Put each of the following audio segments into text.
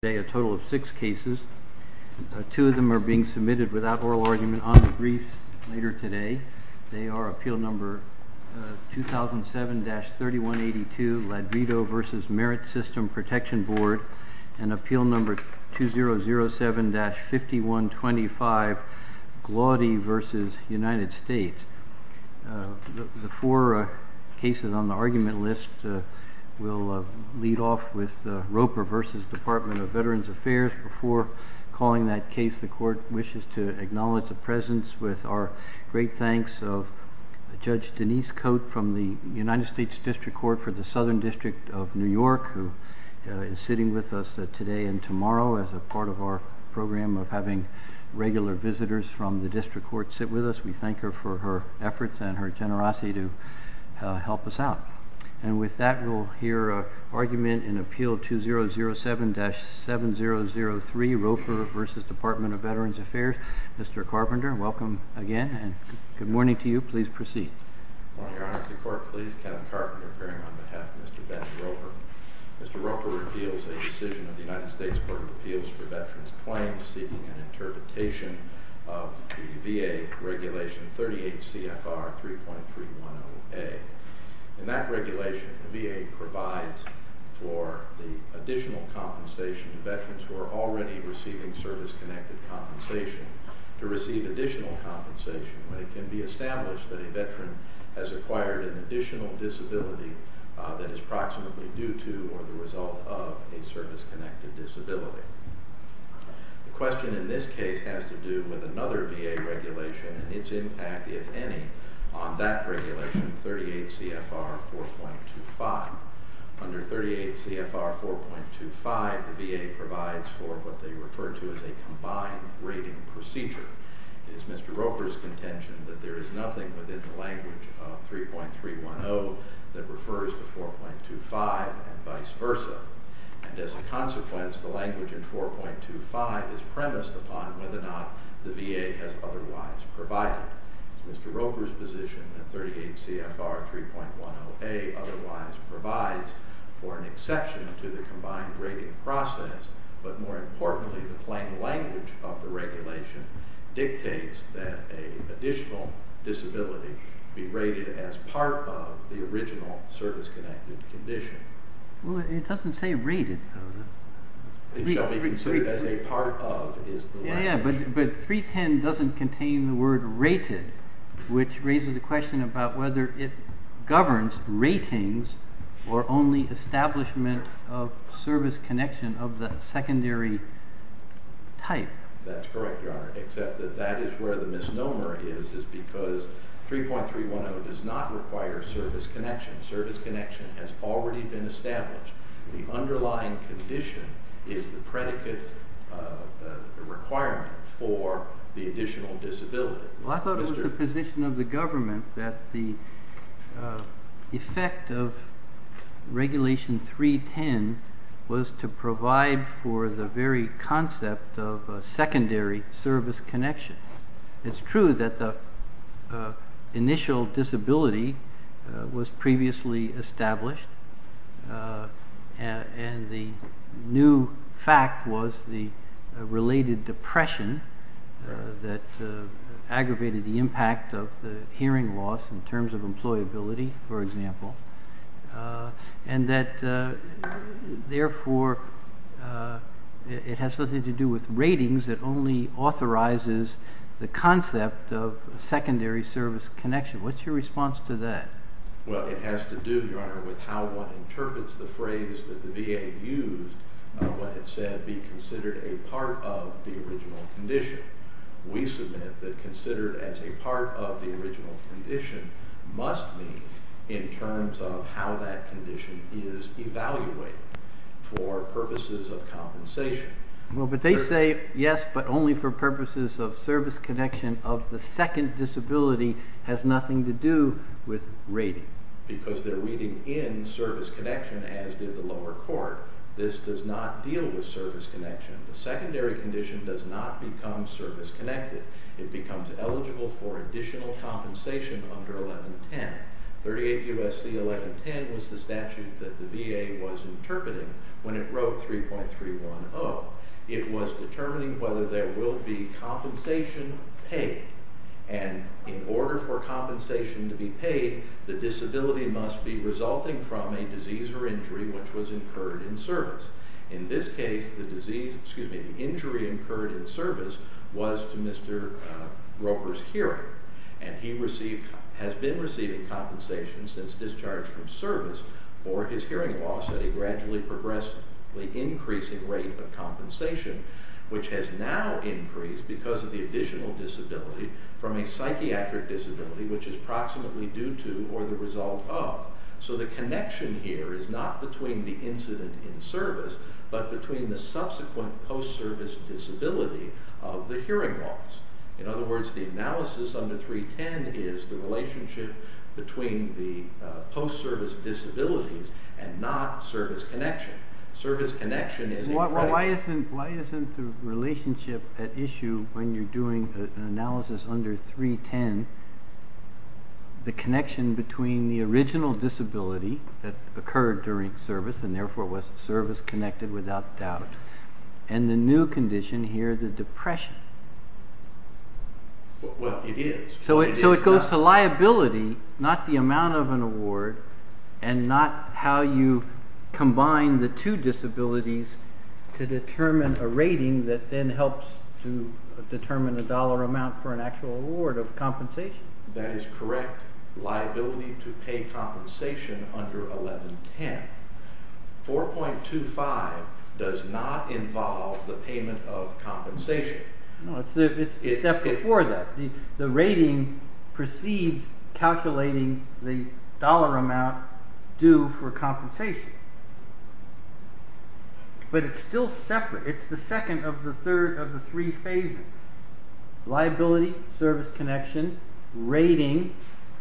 Today, a total of six cases. Two of them are being submitted without oral argument on the briefs later today. They are Appeal No. 2007-3182, Ladrido v. Merit System Protection Board, and Appeal No. 2007-5125, Glaudy v. United States. The four cases on the argument list will lead off with Roper v. Department of Veterans Affairs. Before calling that case, the Court wishes to acknowledge the presence with our great thanks of Judge Denise Coate from the United States District Court for the Southern District of New York, who is sitting with us today and tomorrow as a part of our program of having regular visitors from the District Court sit with us. We thank her for her efforts and her generosity to help us out. And with that, we'll hear an argument in Appeal No. 2007-7003, Roper v. Department of Veterans Affairs. Mr. Carpenter, welcome again, and good morning to you. Please proceed. Good morning, Your Honor. To the Court, please. Kevin Carpenter appearing on behalf of Mr. Ben Roper. Mr. Roper reveals a decision of the United States Court of Appeals for Veterans Claims seeking an interpretation of the VA Regulation 38 CFR 3.310A. In that regulation, the VA provides for the additional compensation to veterans who are already receiving service-connected compensation to receive additional compensation when it can be established that a veteran has acquired an additional disability that is proximately due to or the result of a service-connected disability. The question in this case has to do with another VA regulation and its impact, if any, on that regulation, 38 CFR 4.25. Under 38 CFR 4.25, the VA provides for what they refer to as a combined rating procedure. It is Mr. Roper's contention that there is nothing within the language of 3.310 that refers to 4.25 and vice versa. And as a consequence, the language in 4.25 is premised upon whether or not the VA has otherwise provided. It is Mr. Roper's position that 38 CFR 3.10A otherwise provides for an exception to the combined rating process, but more importantly, the plain language of the regulation dictates that an additional disability be rated as part of the original service-connected condition. Well, it doesn't say rated, though. It shall be considered as a part of is the language. Yeah, but 3.10 doesn't contain the word rated, which raises the question about whether it governs ratings or only establishment of service connection of the secondary type. That's correct, Your Honor, except that that is where the misnomer is, is because 3.310 does not require service connection. Service connection has already been established. The underlying condition is the predicate requirement for the additional disability. Well, I thought it was the position of the government that the effect of regulation 3.10 was to provide for the very concept of secondary service connection. It's true that the initial disability was previously established, and the new fact was the related depression that aggravated the impact of the hearing loss in terms of employability, for example, and that, therefore, it has nothing to do with ratings. It only authorizes the concept of secondary service connection. What's your response to that? Well, it has to do, Your Honor, with how one interprets the phrase that the VA used when it said be considered a part of the original condition. We submit that considered as a part of the original condition must mean in terms of how that condition is evaluated for purposes of compensation. Well, but they say yes, but only for purposes of service connection of the second disability has nothing to do with rating. Because they're reading in service connection, as did the lower court. This does not deal with service connection. The secondary condition does not become service connected. It becomes eligible for additional compensation under 1110. 38 U.S.C. 1110 was the statute that the VA was interpreting when it wrote 3.310. It was determining whether there will be compensation paid, and in order for compensation to be paid, the disability must be resulting from a disease or injury which was incurred in service. In this case, the injury incurred in service was to Mr. Roper's hearing, and he has been receiving compensation since discharge from service for his hearing loss at a gradually progressively increasing rate of compensation, which has now increased because of the additional disability from a psychiatric disability, which is approximately due to or the result of. So the connection here is not between the incident in service, but between the subsequent post-service disability of the hearing loss. In other words, the analysis under 3.310 is the relationship between the post-service disabilities and not service connection. Service connection is... Why isn't the relationship at issue when you're doing an analysis under 3.310 the connection between the original disability that occurred during service and therefore was service connected without doubt, and the new condition here, the depression? Well, it is. So it goes to liability, not the amount of an award, and not how you combine the two disabilities to determine a rating that then helps to determine a dollar amount for an actual award of compensation. That is correct. Liability to pay compensation under 3.310. 4.25 does not involve the payment of compensation. No, it's the step before that. The rating precedes calculating the dollar amount due for compensation. But it's still separate. It's the second of the three phases. Liability, service connection, rating,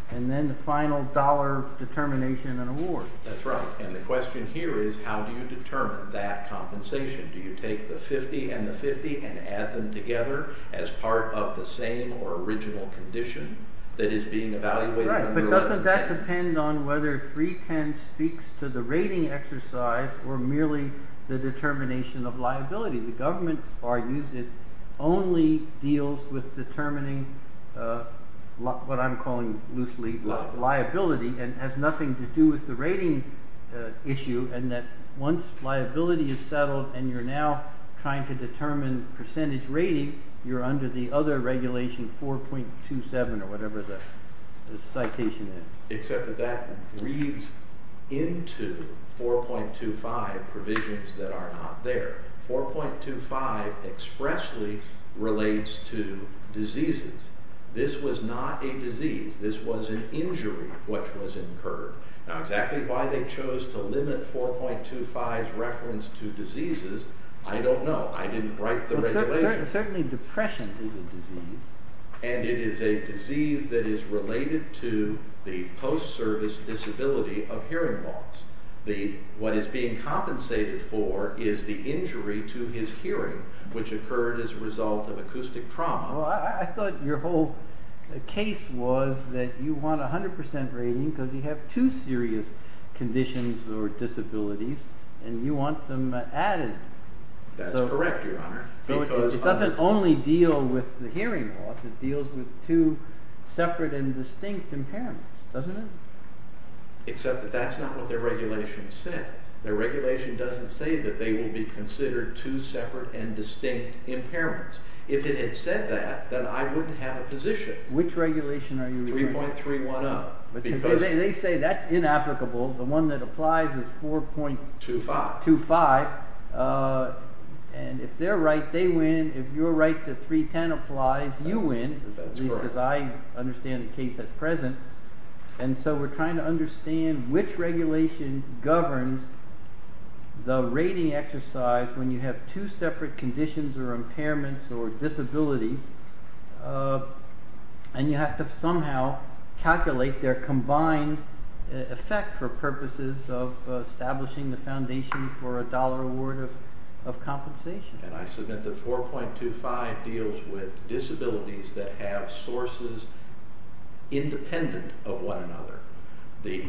and then the final dollar determination and award. That's right. And the question here is how do you determine that compensation? Do you take the 50 and the 50 and add them together as part of the same or original condition that is being evaluated under 3.310? That depends on whether 3.310 speaks to the rating exercise or merely the determination of liability. The government argues it only deals with determining what I'm calling loosely liability and has nothing to do with the rating issue and that once liability is settled and you're now trying to determine percentage rating, you're under the other regulation 4.27 or whatever the citation is. Except that that reads into 4.25 provisions that are not there. 4.25 expressly relates to diseases. This was not a disease. This was an injury which was incurred. Now exactly why they chose to limit 4.25's reference to diseases, I don't know. I didn't write the regulation. Certainly depression is a disease. And it is a disease that is related to the post-service disability of hearing loss. What is being compensated for is the injury to his hearing which occurred as a result of acoustic trauma. I thought your whole case was that you want 100% rating because you have two serious conditions or disabilities and you want them added. That's correct, Your Honor. It doesn't only deal with the hearing loss. It deals with two separate and distinct impairments, doesn't it? Except that that's not what their regulation says. Their regulation doesn't say that they will be considered two separate and distinct impairments. If it had said that, then I wouldn't have a position. Which regulation are you referring to? 3.310. They say that's inapplicable. The one that applies is 4.25. And if they're right, they win. If you're right that 3.310 applies, you win. That's correct. Because I understand the case at present. And so we're trying to understand which regulation governs the rating exercise when you have two separate conditions or impairments or disabilities. And you have to somehow calculate their combined effect for purposes of establishing the foundation for a dollar award of compensation. And I submit that 4.25 deals with disabilities that have sources independent of one another. The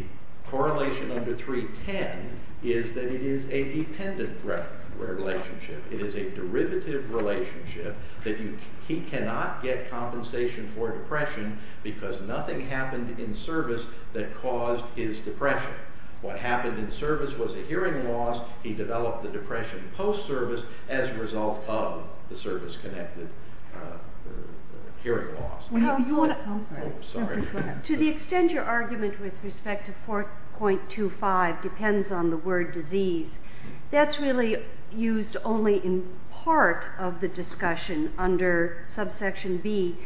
correlation under 3.310 is that it is a dependent relationship. It is a derivative relationship that he cannot get compensation for depression because nothing happened in service that caused his depression. What happened in service was a hearing loss. He developed the depression post-service as a result of the service-connected hearing loss. To the extent your argument with respect to 4.25 depends on the word disease, that's really used only in part of the discussion under subsection B.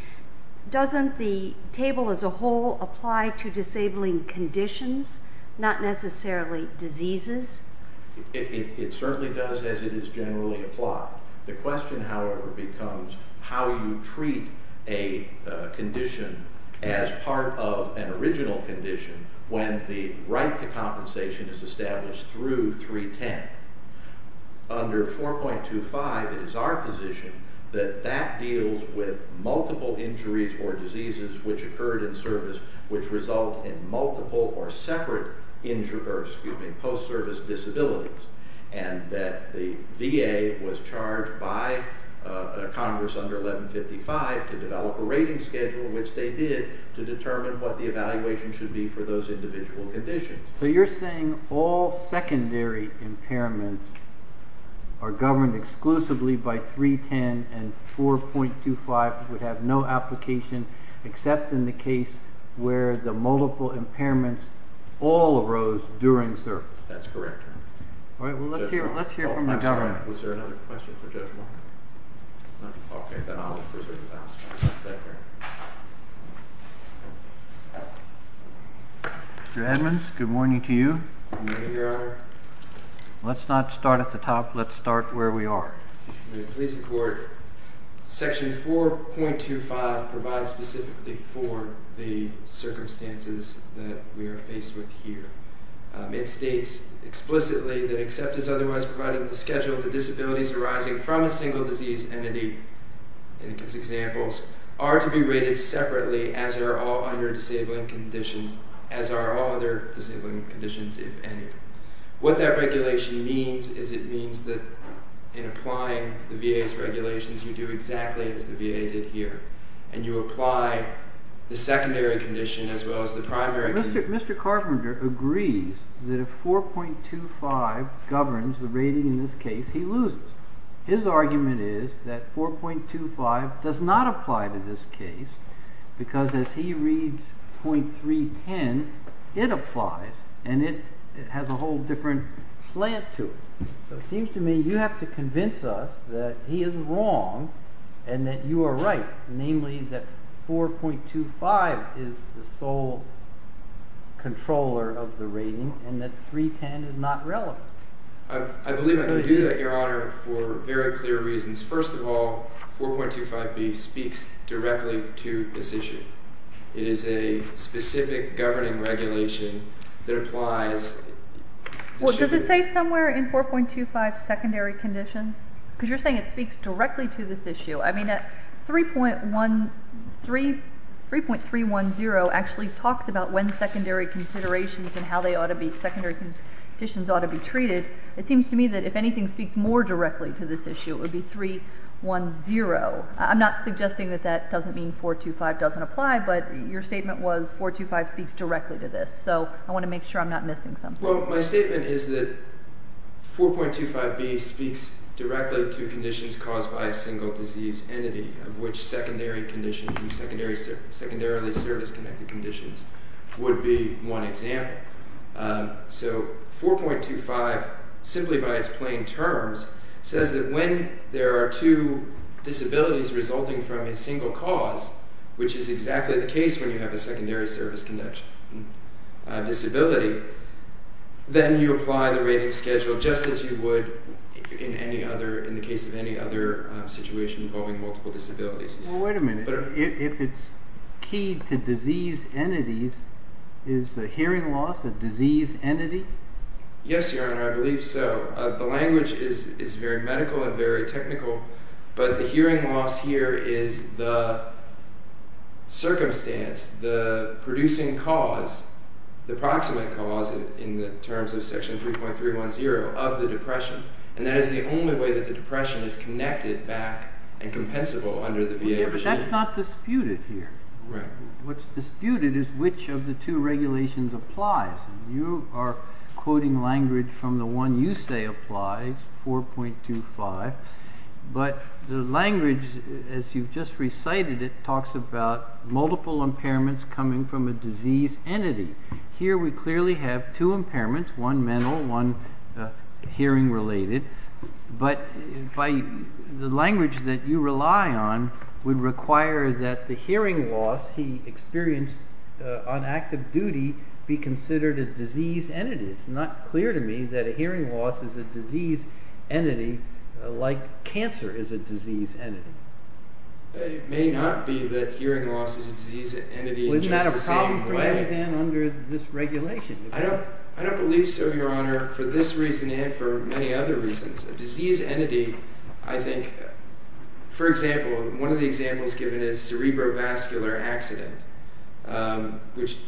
Doesn't the table as a whole apply to disabling conditions, not necessarily diseases? It certainly does as it is generally applied. The question, however, becomes how you treat a condition as part of an original condition when the right to compensation is established through 3.10. Under 4.25, it is our position that that deals with multiple injuries or diseases which occurred in service which result in multiple or separate post-service disabilities. And that the VA was charged by Congress under 1155 to develop a rating schedule, which they did, to determine what the evaluation should be for those individual conditions. So you're saying all secondary impairments are governed exclusively by 3.10 and 4.25 would have no application except in the case where the multiple impairments all arose during service? That's correct. All right, well, let's hear from the governor. Was there another question for Judge Martin? Okay, then I'll present the balance sheet. Mr. Edmonds, good morning to you. Good morning, Your Honor. Let's not start at the top. Let's start where we are. May it please the Court. Section 4.25 provides specifically for the circumstances that we are faced with here. It states explicitly that except as otherwise provided in the schedule the disabilities arising from a single disease entity, in these examples, are to be rated separately as they are all under disabling conditions, as are all other disabling conditions, if any. What that regulation means is it means that in applying the VA's regulations, you do exactly as the VA did here. And you apply the secondary condition as well as the primary condition. Mr. Carpenter agrees that if 4.25 governs the rating in this case, he loses. His argument is that 4.25 does not apply to this case because as he reads .310, it applies, and it has a whole different slant to it. So it seems to me you have to convince us that he is wrong and that you are right, namely that 4.25 is the sole controller of the rating and that .310 is not relevant. I believe I can do that, Your Honor, for very clear reasons. First of all, 4.25b speaks directly to this issue. It is a specific governing regulation that applies. Well, does it say somewhere in 4.25 secondary conditions? Because you're saying it speaks directly to this issue. I mean, 3.310 actually talks about when secondary considerations and how secondary conditions ought to be treated. It seems to me that if anything speaks more directly to this issue, it would be 3.10. I'm not suggesting that that doesn't mean 4.25 doesn't apply, but your statement was 4.25 speaks directly to this. So I want to make sure I'm not missing something. Well, my statement is that 4.25b speaks directly to conditions caused by a single disease entity, of which secondary conditions and secondarily service-connected conditions would be one example. So 4.25, simply by its plain terms, says that when there are two disabilities resulting from a single cause, which is exactly the case when you have a secondary service-connected disability, then you apply the rating schedule just as you would in the case of any other situation involving multiple disabilities. Well, wait a minute. If it's key to disease entities, is the hearing loss a disease entity? Yes, Your Honor, I believe so. The language is very medical and very technical, but the hearing loss here is the circumstance, the producing cause, the proximate cause in the terms of section 3.310 of the depression, and that is the only way that the depression is connected back and compensable under the VA regime. But that's not disputed here. What's disputed is which of the two regulations applies. You are quoting language from the one you say applies, 4.25, but the language, as you've just recited it, talks about multiple impairments coming from a disease entity. Here we clearly have two impairments, one mental, one hearing-related, but the language that you rely on would require that the hearing loss he experienced on active duty be considered a disease entity. It's not clear to me that a hearing loss is a disease entity like cancer is a disease entity. It may not be that hearing loss is a disease entity in just the same way. Well, isn't that a problem for anybody then under this regulation? I don't believe so, Your Honor, for this reason and for many other reasons. A disease entity, I think, for example, one of the examples given is cerebrovascular accident, which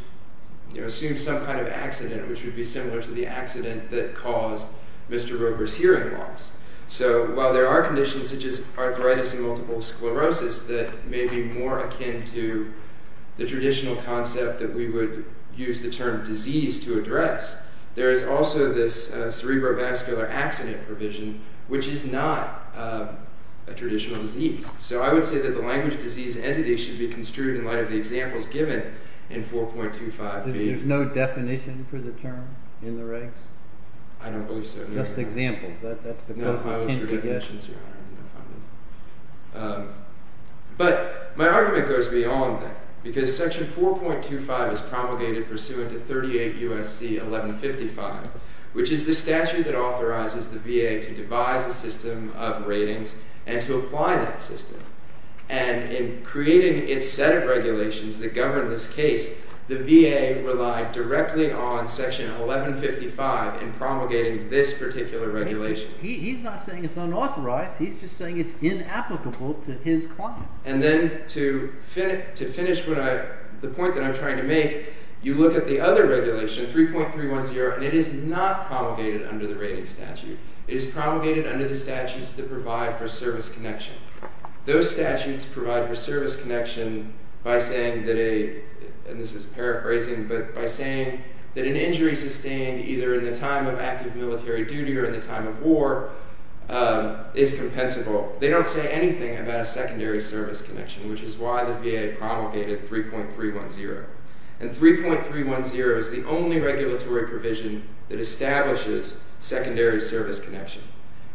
assumes some kind of accident which would be similar to the accident that caused Mr. Roeber's hearing loss. So while there are conditions such as arthritis and multiple sclerosis that may be more akin to the traditional concept that we would use the term disease to address, there is also this cerebrovascular accident provision which is not a traditional disease. So I would say that the language disease entity should be construed in light of the examples given in 4.25b. There's no definition for the term in the regs? I don't believe so, Your Honor. Just examples. No code for definitions, Your Honor. But my argument goes beyond that because Section 4.25 is promulgated pursuant to 38 U.S.C. 1155, which is the statute that authorizes the VA to devise a system of ratings and to apply that system. And in creating its set of regulations that govern this case, the VA relied directly on Section 1155 in promulgating this particular regulation. He's not saying it's unauthorized. He's just saying it's inapplicable to his client. And then to finish the point that I'm trying to make, you look at the other regulation, 3.310, and it is not promulgated under the rating statute. It is promulgated under the statutes that provide for service connection. Those statutes provide for service connection by saying that a – and this is paraphrasing – but by saying that an injury sustained either in the time of active military duty or in the time of war is compensable. They don't say anything about a secondary service connection, which is why the VA promulgated 3.310. And 3.310 is the only regulatory provision that establishes secondary service connection.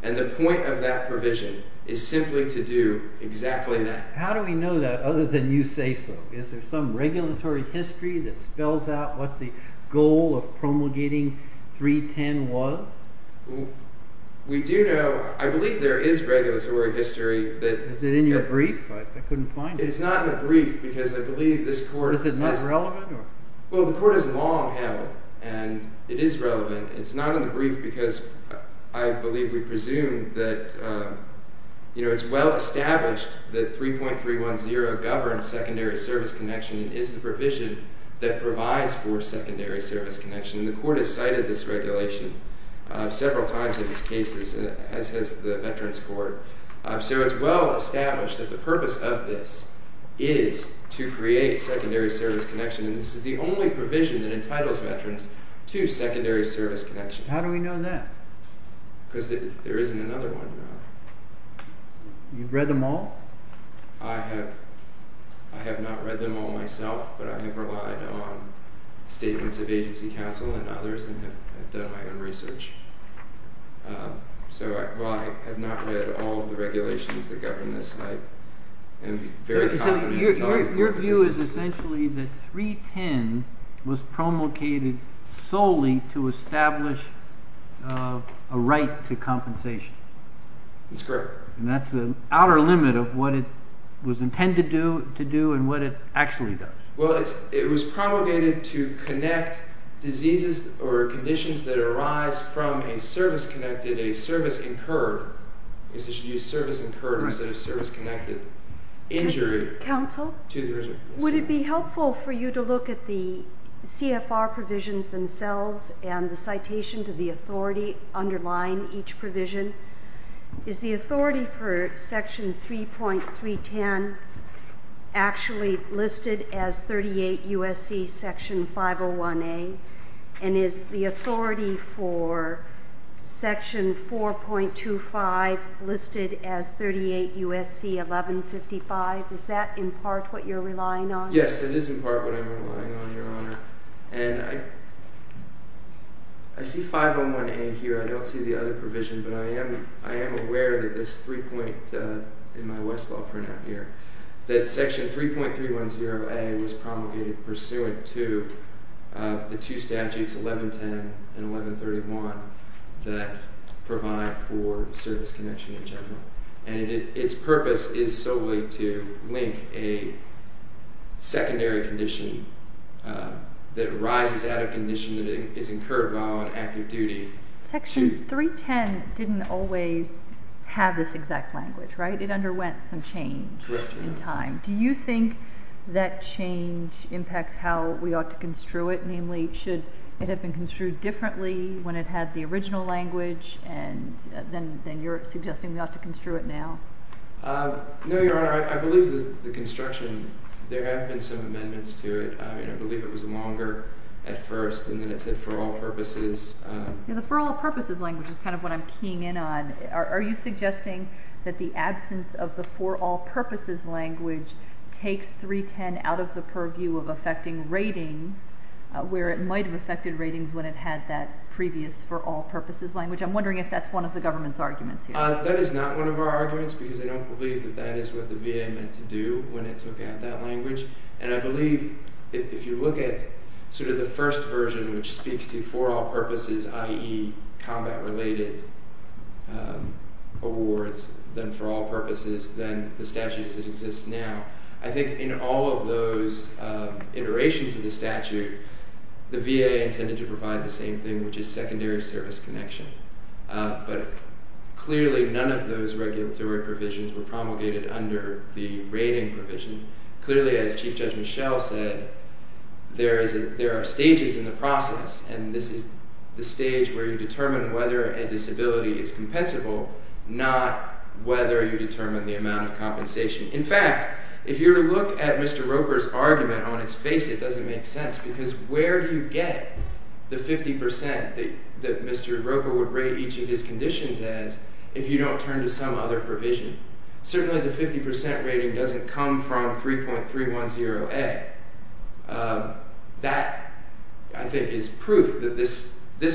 And the point of that provision is simply to do exactly that. How do we know that other than you say so? Is there some regulatory history that spells out what the goal of promulgating 310 was? We do know – I believe there is regulatory history that – It is not in the brief because I believe this court – Is it not relevant? Well, the court has long held, and it is relevant. It's not in the brief because I believe we presume that it's well established that 3.310 governs secondary service connection and is the provision that provides for secondary service connection. And the court has cited this regulation several times in its cases, as has the Veterans Court. So it's well established that the purpose of this is to create secondary service connection, and this is the only provision that entitles veterans to secondary service connection. How do we know that? Because there isn't another one. You've read them all? I have not read them all myself, but I have relied on statements of agency counsel and others and have done my own research. So, while I have not read all of the regulations that govern this, I am very confident that – Your view is essentially that 310 was promulgated solely to establish a right to compensation. That's correct. And that's the outer limit of what it was intended to do and what it actually does. Well, it was promulgated to connect diseases or conditions that arise from a service-connected, a service-incurred – I guess I should use service-incurred instead of service-connected – injury to the reserve. Counsel, would it be helpful for you to look at the CFR provisions themselves and the citation to the authority underlying each provision? Is the authority for Section 3.310 actually listed as 38 U.S.C. Section 501A? And is the authority for Section 4.25 listed as 38 U.S.C. 1155? Is that in part what you're relying on? Yes, it is in part what I'm relying on, Your Honor. And I see 501A here. I don't see the other provision. But I am aware that this three-point – in my Westlaw printout here – that Section 3.310A was promulgated pursuant to the two statutes, 1110 and 1131, that provide for service connection in general. And its purpose is solely to link a secondary condition that arises out of a condition that is incurred while on active duty. Section 3.310 didn't always have this exact language, right? It underwent some change in time. Do you think that change impacts how we ought to construe it? Namely, should it have been construed differently when it had the original language? And then you're suggesting we ought to construe it now. No, Your Honor. I believe the construction – there have been some amendments to it. I believe it was longer at first, and then it said for all purposes. The for all purposes language is kind of what I'm keying in on. Are you suggesting that the absence of the for all purposes language takes 310 out of the purview of affecting ratings, where it might have affected ratings when it had that previous for all purposes language? I'm wondering if that's one of the government's arguments here. That is not one of our arguments, because I don't believe that that is what the VA meant to do when it took out that language. And I believe if you look at sort of the first version, which speaks to for all purposes, i.e. combat-related awards, then for all purposes, then the statute as it exists now, I think in all of those iterations of the statute, the VA intended to provide the same thing, which is secondary service connection. But clearly none of those regulatory provisions were promulgated under the rating provision. Clearly, as Chief Judge Michel said, there are stages in the process, and this is the stage where you determine whether a disability is compensable, not whether you determine the amount of compensation. In fact, if you were to look at Mr. Roper's argument on its face, it doesn't make sense, because where do you get the 50% that Mr. Roper would rate each of his conditions as if you don't turn to some other provision? Certainly the 50% rating doesn't come from 3.310A. That, I think, is proof that this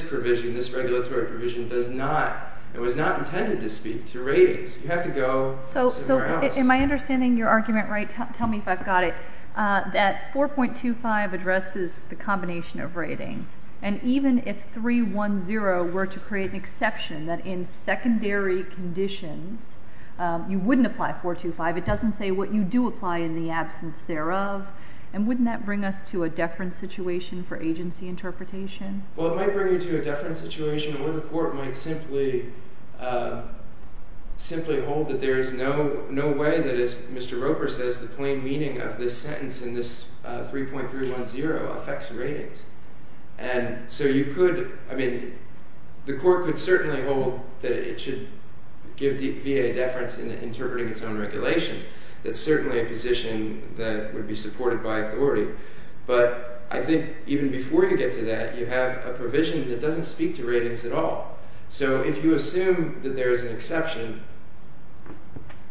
provision, this regulatory provision, does not and was not intended to speak to ratings. You have to go somewhere else. So am I understanding your argument right? Tell me if I've got it. That 4.25 addresses the combination of ratings, and even if 3.10 were to create an exception that in secondary conditions you wouldn't apply 4.25, it doesn't say what you do apply in the absence thereof, and wouldn't that bring us to a deference situation for agency interpretation? Well, it might bring you to a deference situation where the court might simply hold that there is no way that, as Mr. Roper says, the plain meaning of this sentence in this 3.310 affects ratings. And so you could, I mean, the court could certainly hold that it should give VA deference in interpreting its own regulations. That's certainly a position that would be supported by authority. But I think even before you get to that, you have a provision that doesn't speak to ratings at all. So if you assume that there is an exception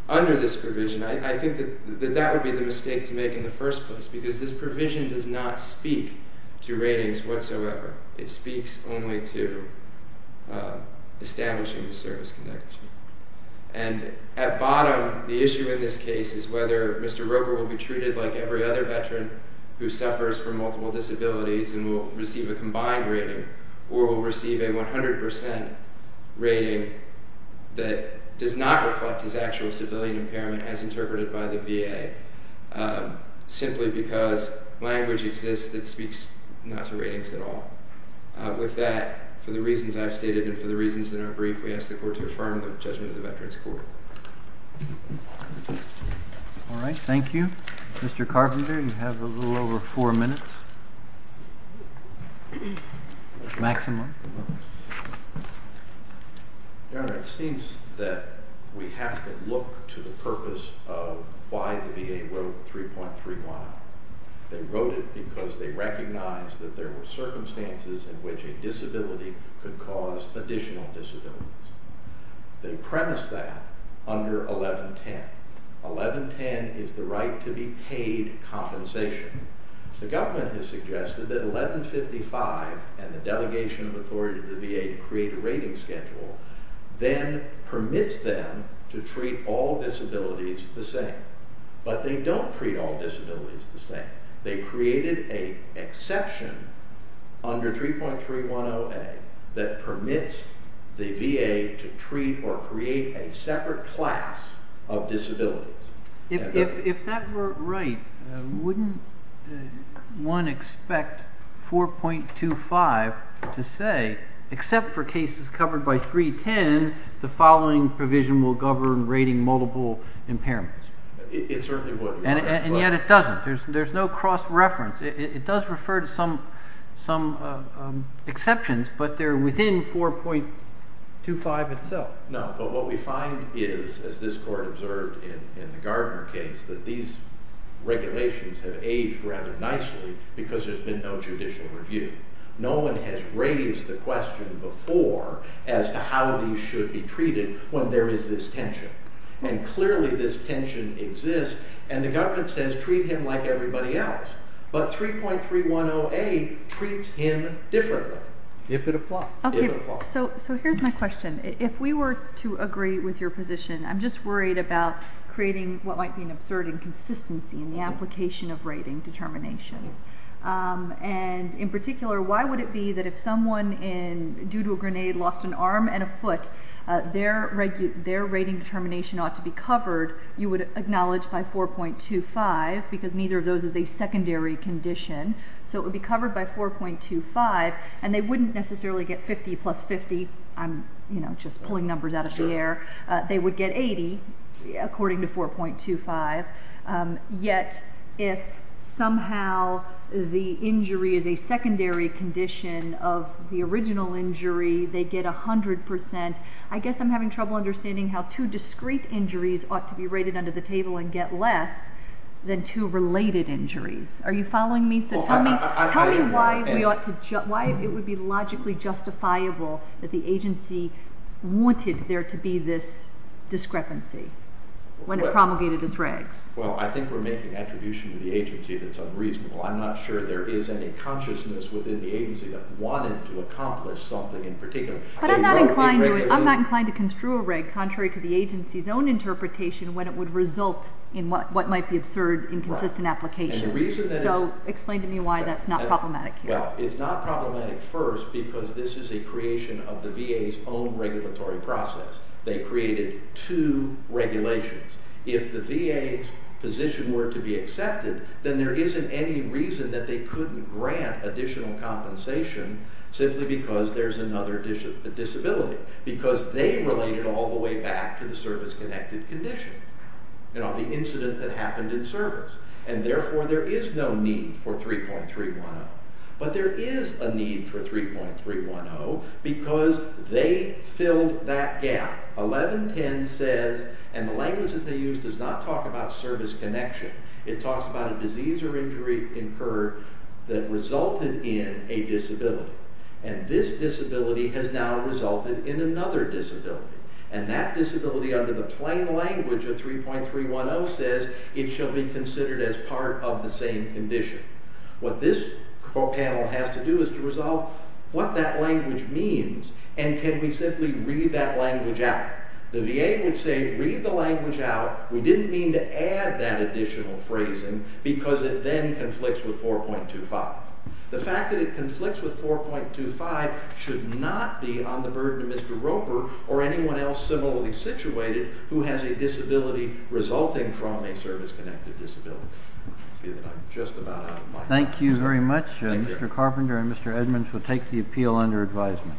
under this provision, I think that that would be the mistake to make in the first place, because this provision does not speak to ratings whatsoever. It speaks only to establishing a service connection. And at bottom, the issue in this case is whether Mr. Roper will be treated like every other veteran who suffers from multiple disabilities and will receive a combined rating, or will receive a 100% rating that does not reflect his actual civilian impairment as interpreted by the VA, simply because language exists that speaks not to ratings at all. With that, for the reasons I've stated and for the reasons in our brief, we ask the court to affirm the judgment of the Veterans Court. All right, thank you. Mr. Carpenter, you have a little over four minutes, maximum. Your Honor, it seems that we have to look to the purpose of why the VA wrote 3.31. They wrote it because they recognized that there were circumstances in which a disability could cause additional disabilities. They premised that under 1110. 1110 is the right to be paid compensation. The government has suggested that 1155 and the delegation of authority to the VA to create a rating schedule then permits them to treat all disabilities the same. But they don't treat all disabilities the same. They created an exception under 3.310A that permits the VA to treat or create a separate class of disabilities. If that were right, wouldn't one expect 4.25 to say, except for cases covered by 310, the following provision will govern rating multiple impairments? It certainly wouldn't. And yet it doesn't. There's no cross-reference. It does refer to some exceptions, but they're within 4.25 itself. No, but what we find is, as this court observed in the Gardner case, that these regulations have aged rather nicely because there's been no judicial review. No one has raised the question before as to how these should be treated when there is this tension. And clearly this tension exists, and the government says treat him like everybody else. But 3.310A treats him differently. If it applies. If it applies. So here's my question. If we were to agree with your position, I'm just worried about creating what might be an absurd inconsistency in the application of rating determinations. And in particular, why would it be that if someone, due to a grenade, lost an arm and a foot, their rating determination ought to be covered, you would acknowledge, by 4.25, because neither of those is a secondary condition. So it would be covered by 4.25, and they wouldn't necessarily get 50 plus 50. I'm just pulling numbers out of the air. They would get 80, according to 4.25. Yet if somehow the injury is a secondary condition of the original injury, they get 100%. I guess I'm having trouble understanding how two discrete injuries ought to be rated under the table and get less than two related injuries. Are you following me? Tell me why it would be logically justifiable that the agency wanted there to be this discrepancy when it promulgated its regs. Well, I think we're making attribution to the agency that's unreasonable. I'm not sure there is any consciousness within the agency that wanted to accomplish something in particular. But I'm not inclined to construe a reg contrary to the agency's own interpretation when it would result in what might be absurd inconsistent applications. So explain to me why that's not problematic here. Well, it's not problematic first because this is a creation of the VA's own regulatory process. They created two regulations. If the VA's position were to be accepted, then there isn't any reason that they couldn't grant additional compensation simply because there's another disability. Because they related all the way back to the service-connected condition, the incident that happened in service. And therefore there is no need for 3.310. But there is a need for 3.310 because they filled that gap. 1110 says, and the language that they used does not talk about service connection. It talks about a disease or injury incurred that resulted in a disability. And this disability has now resulted in another disability. And that disability under the plain language of 3.310 says it shall be considered as part of the same condition. What this panel has to do is to resolve what that language means and can we simply read that language out. The VA would say, read the language out. We didn't mean to add that additional phrasing because it then conflicts with 4.25. The fact that it conflicts with 4.25 should not be on the burden of Mr. Roper or anyone else similarly situated who has a disability resulting from a service-connected disability. Thank you very much. Mr. Carpenter and Mr. Edmonds will take the appeal under advisement.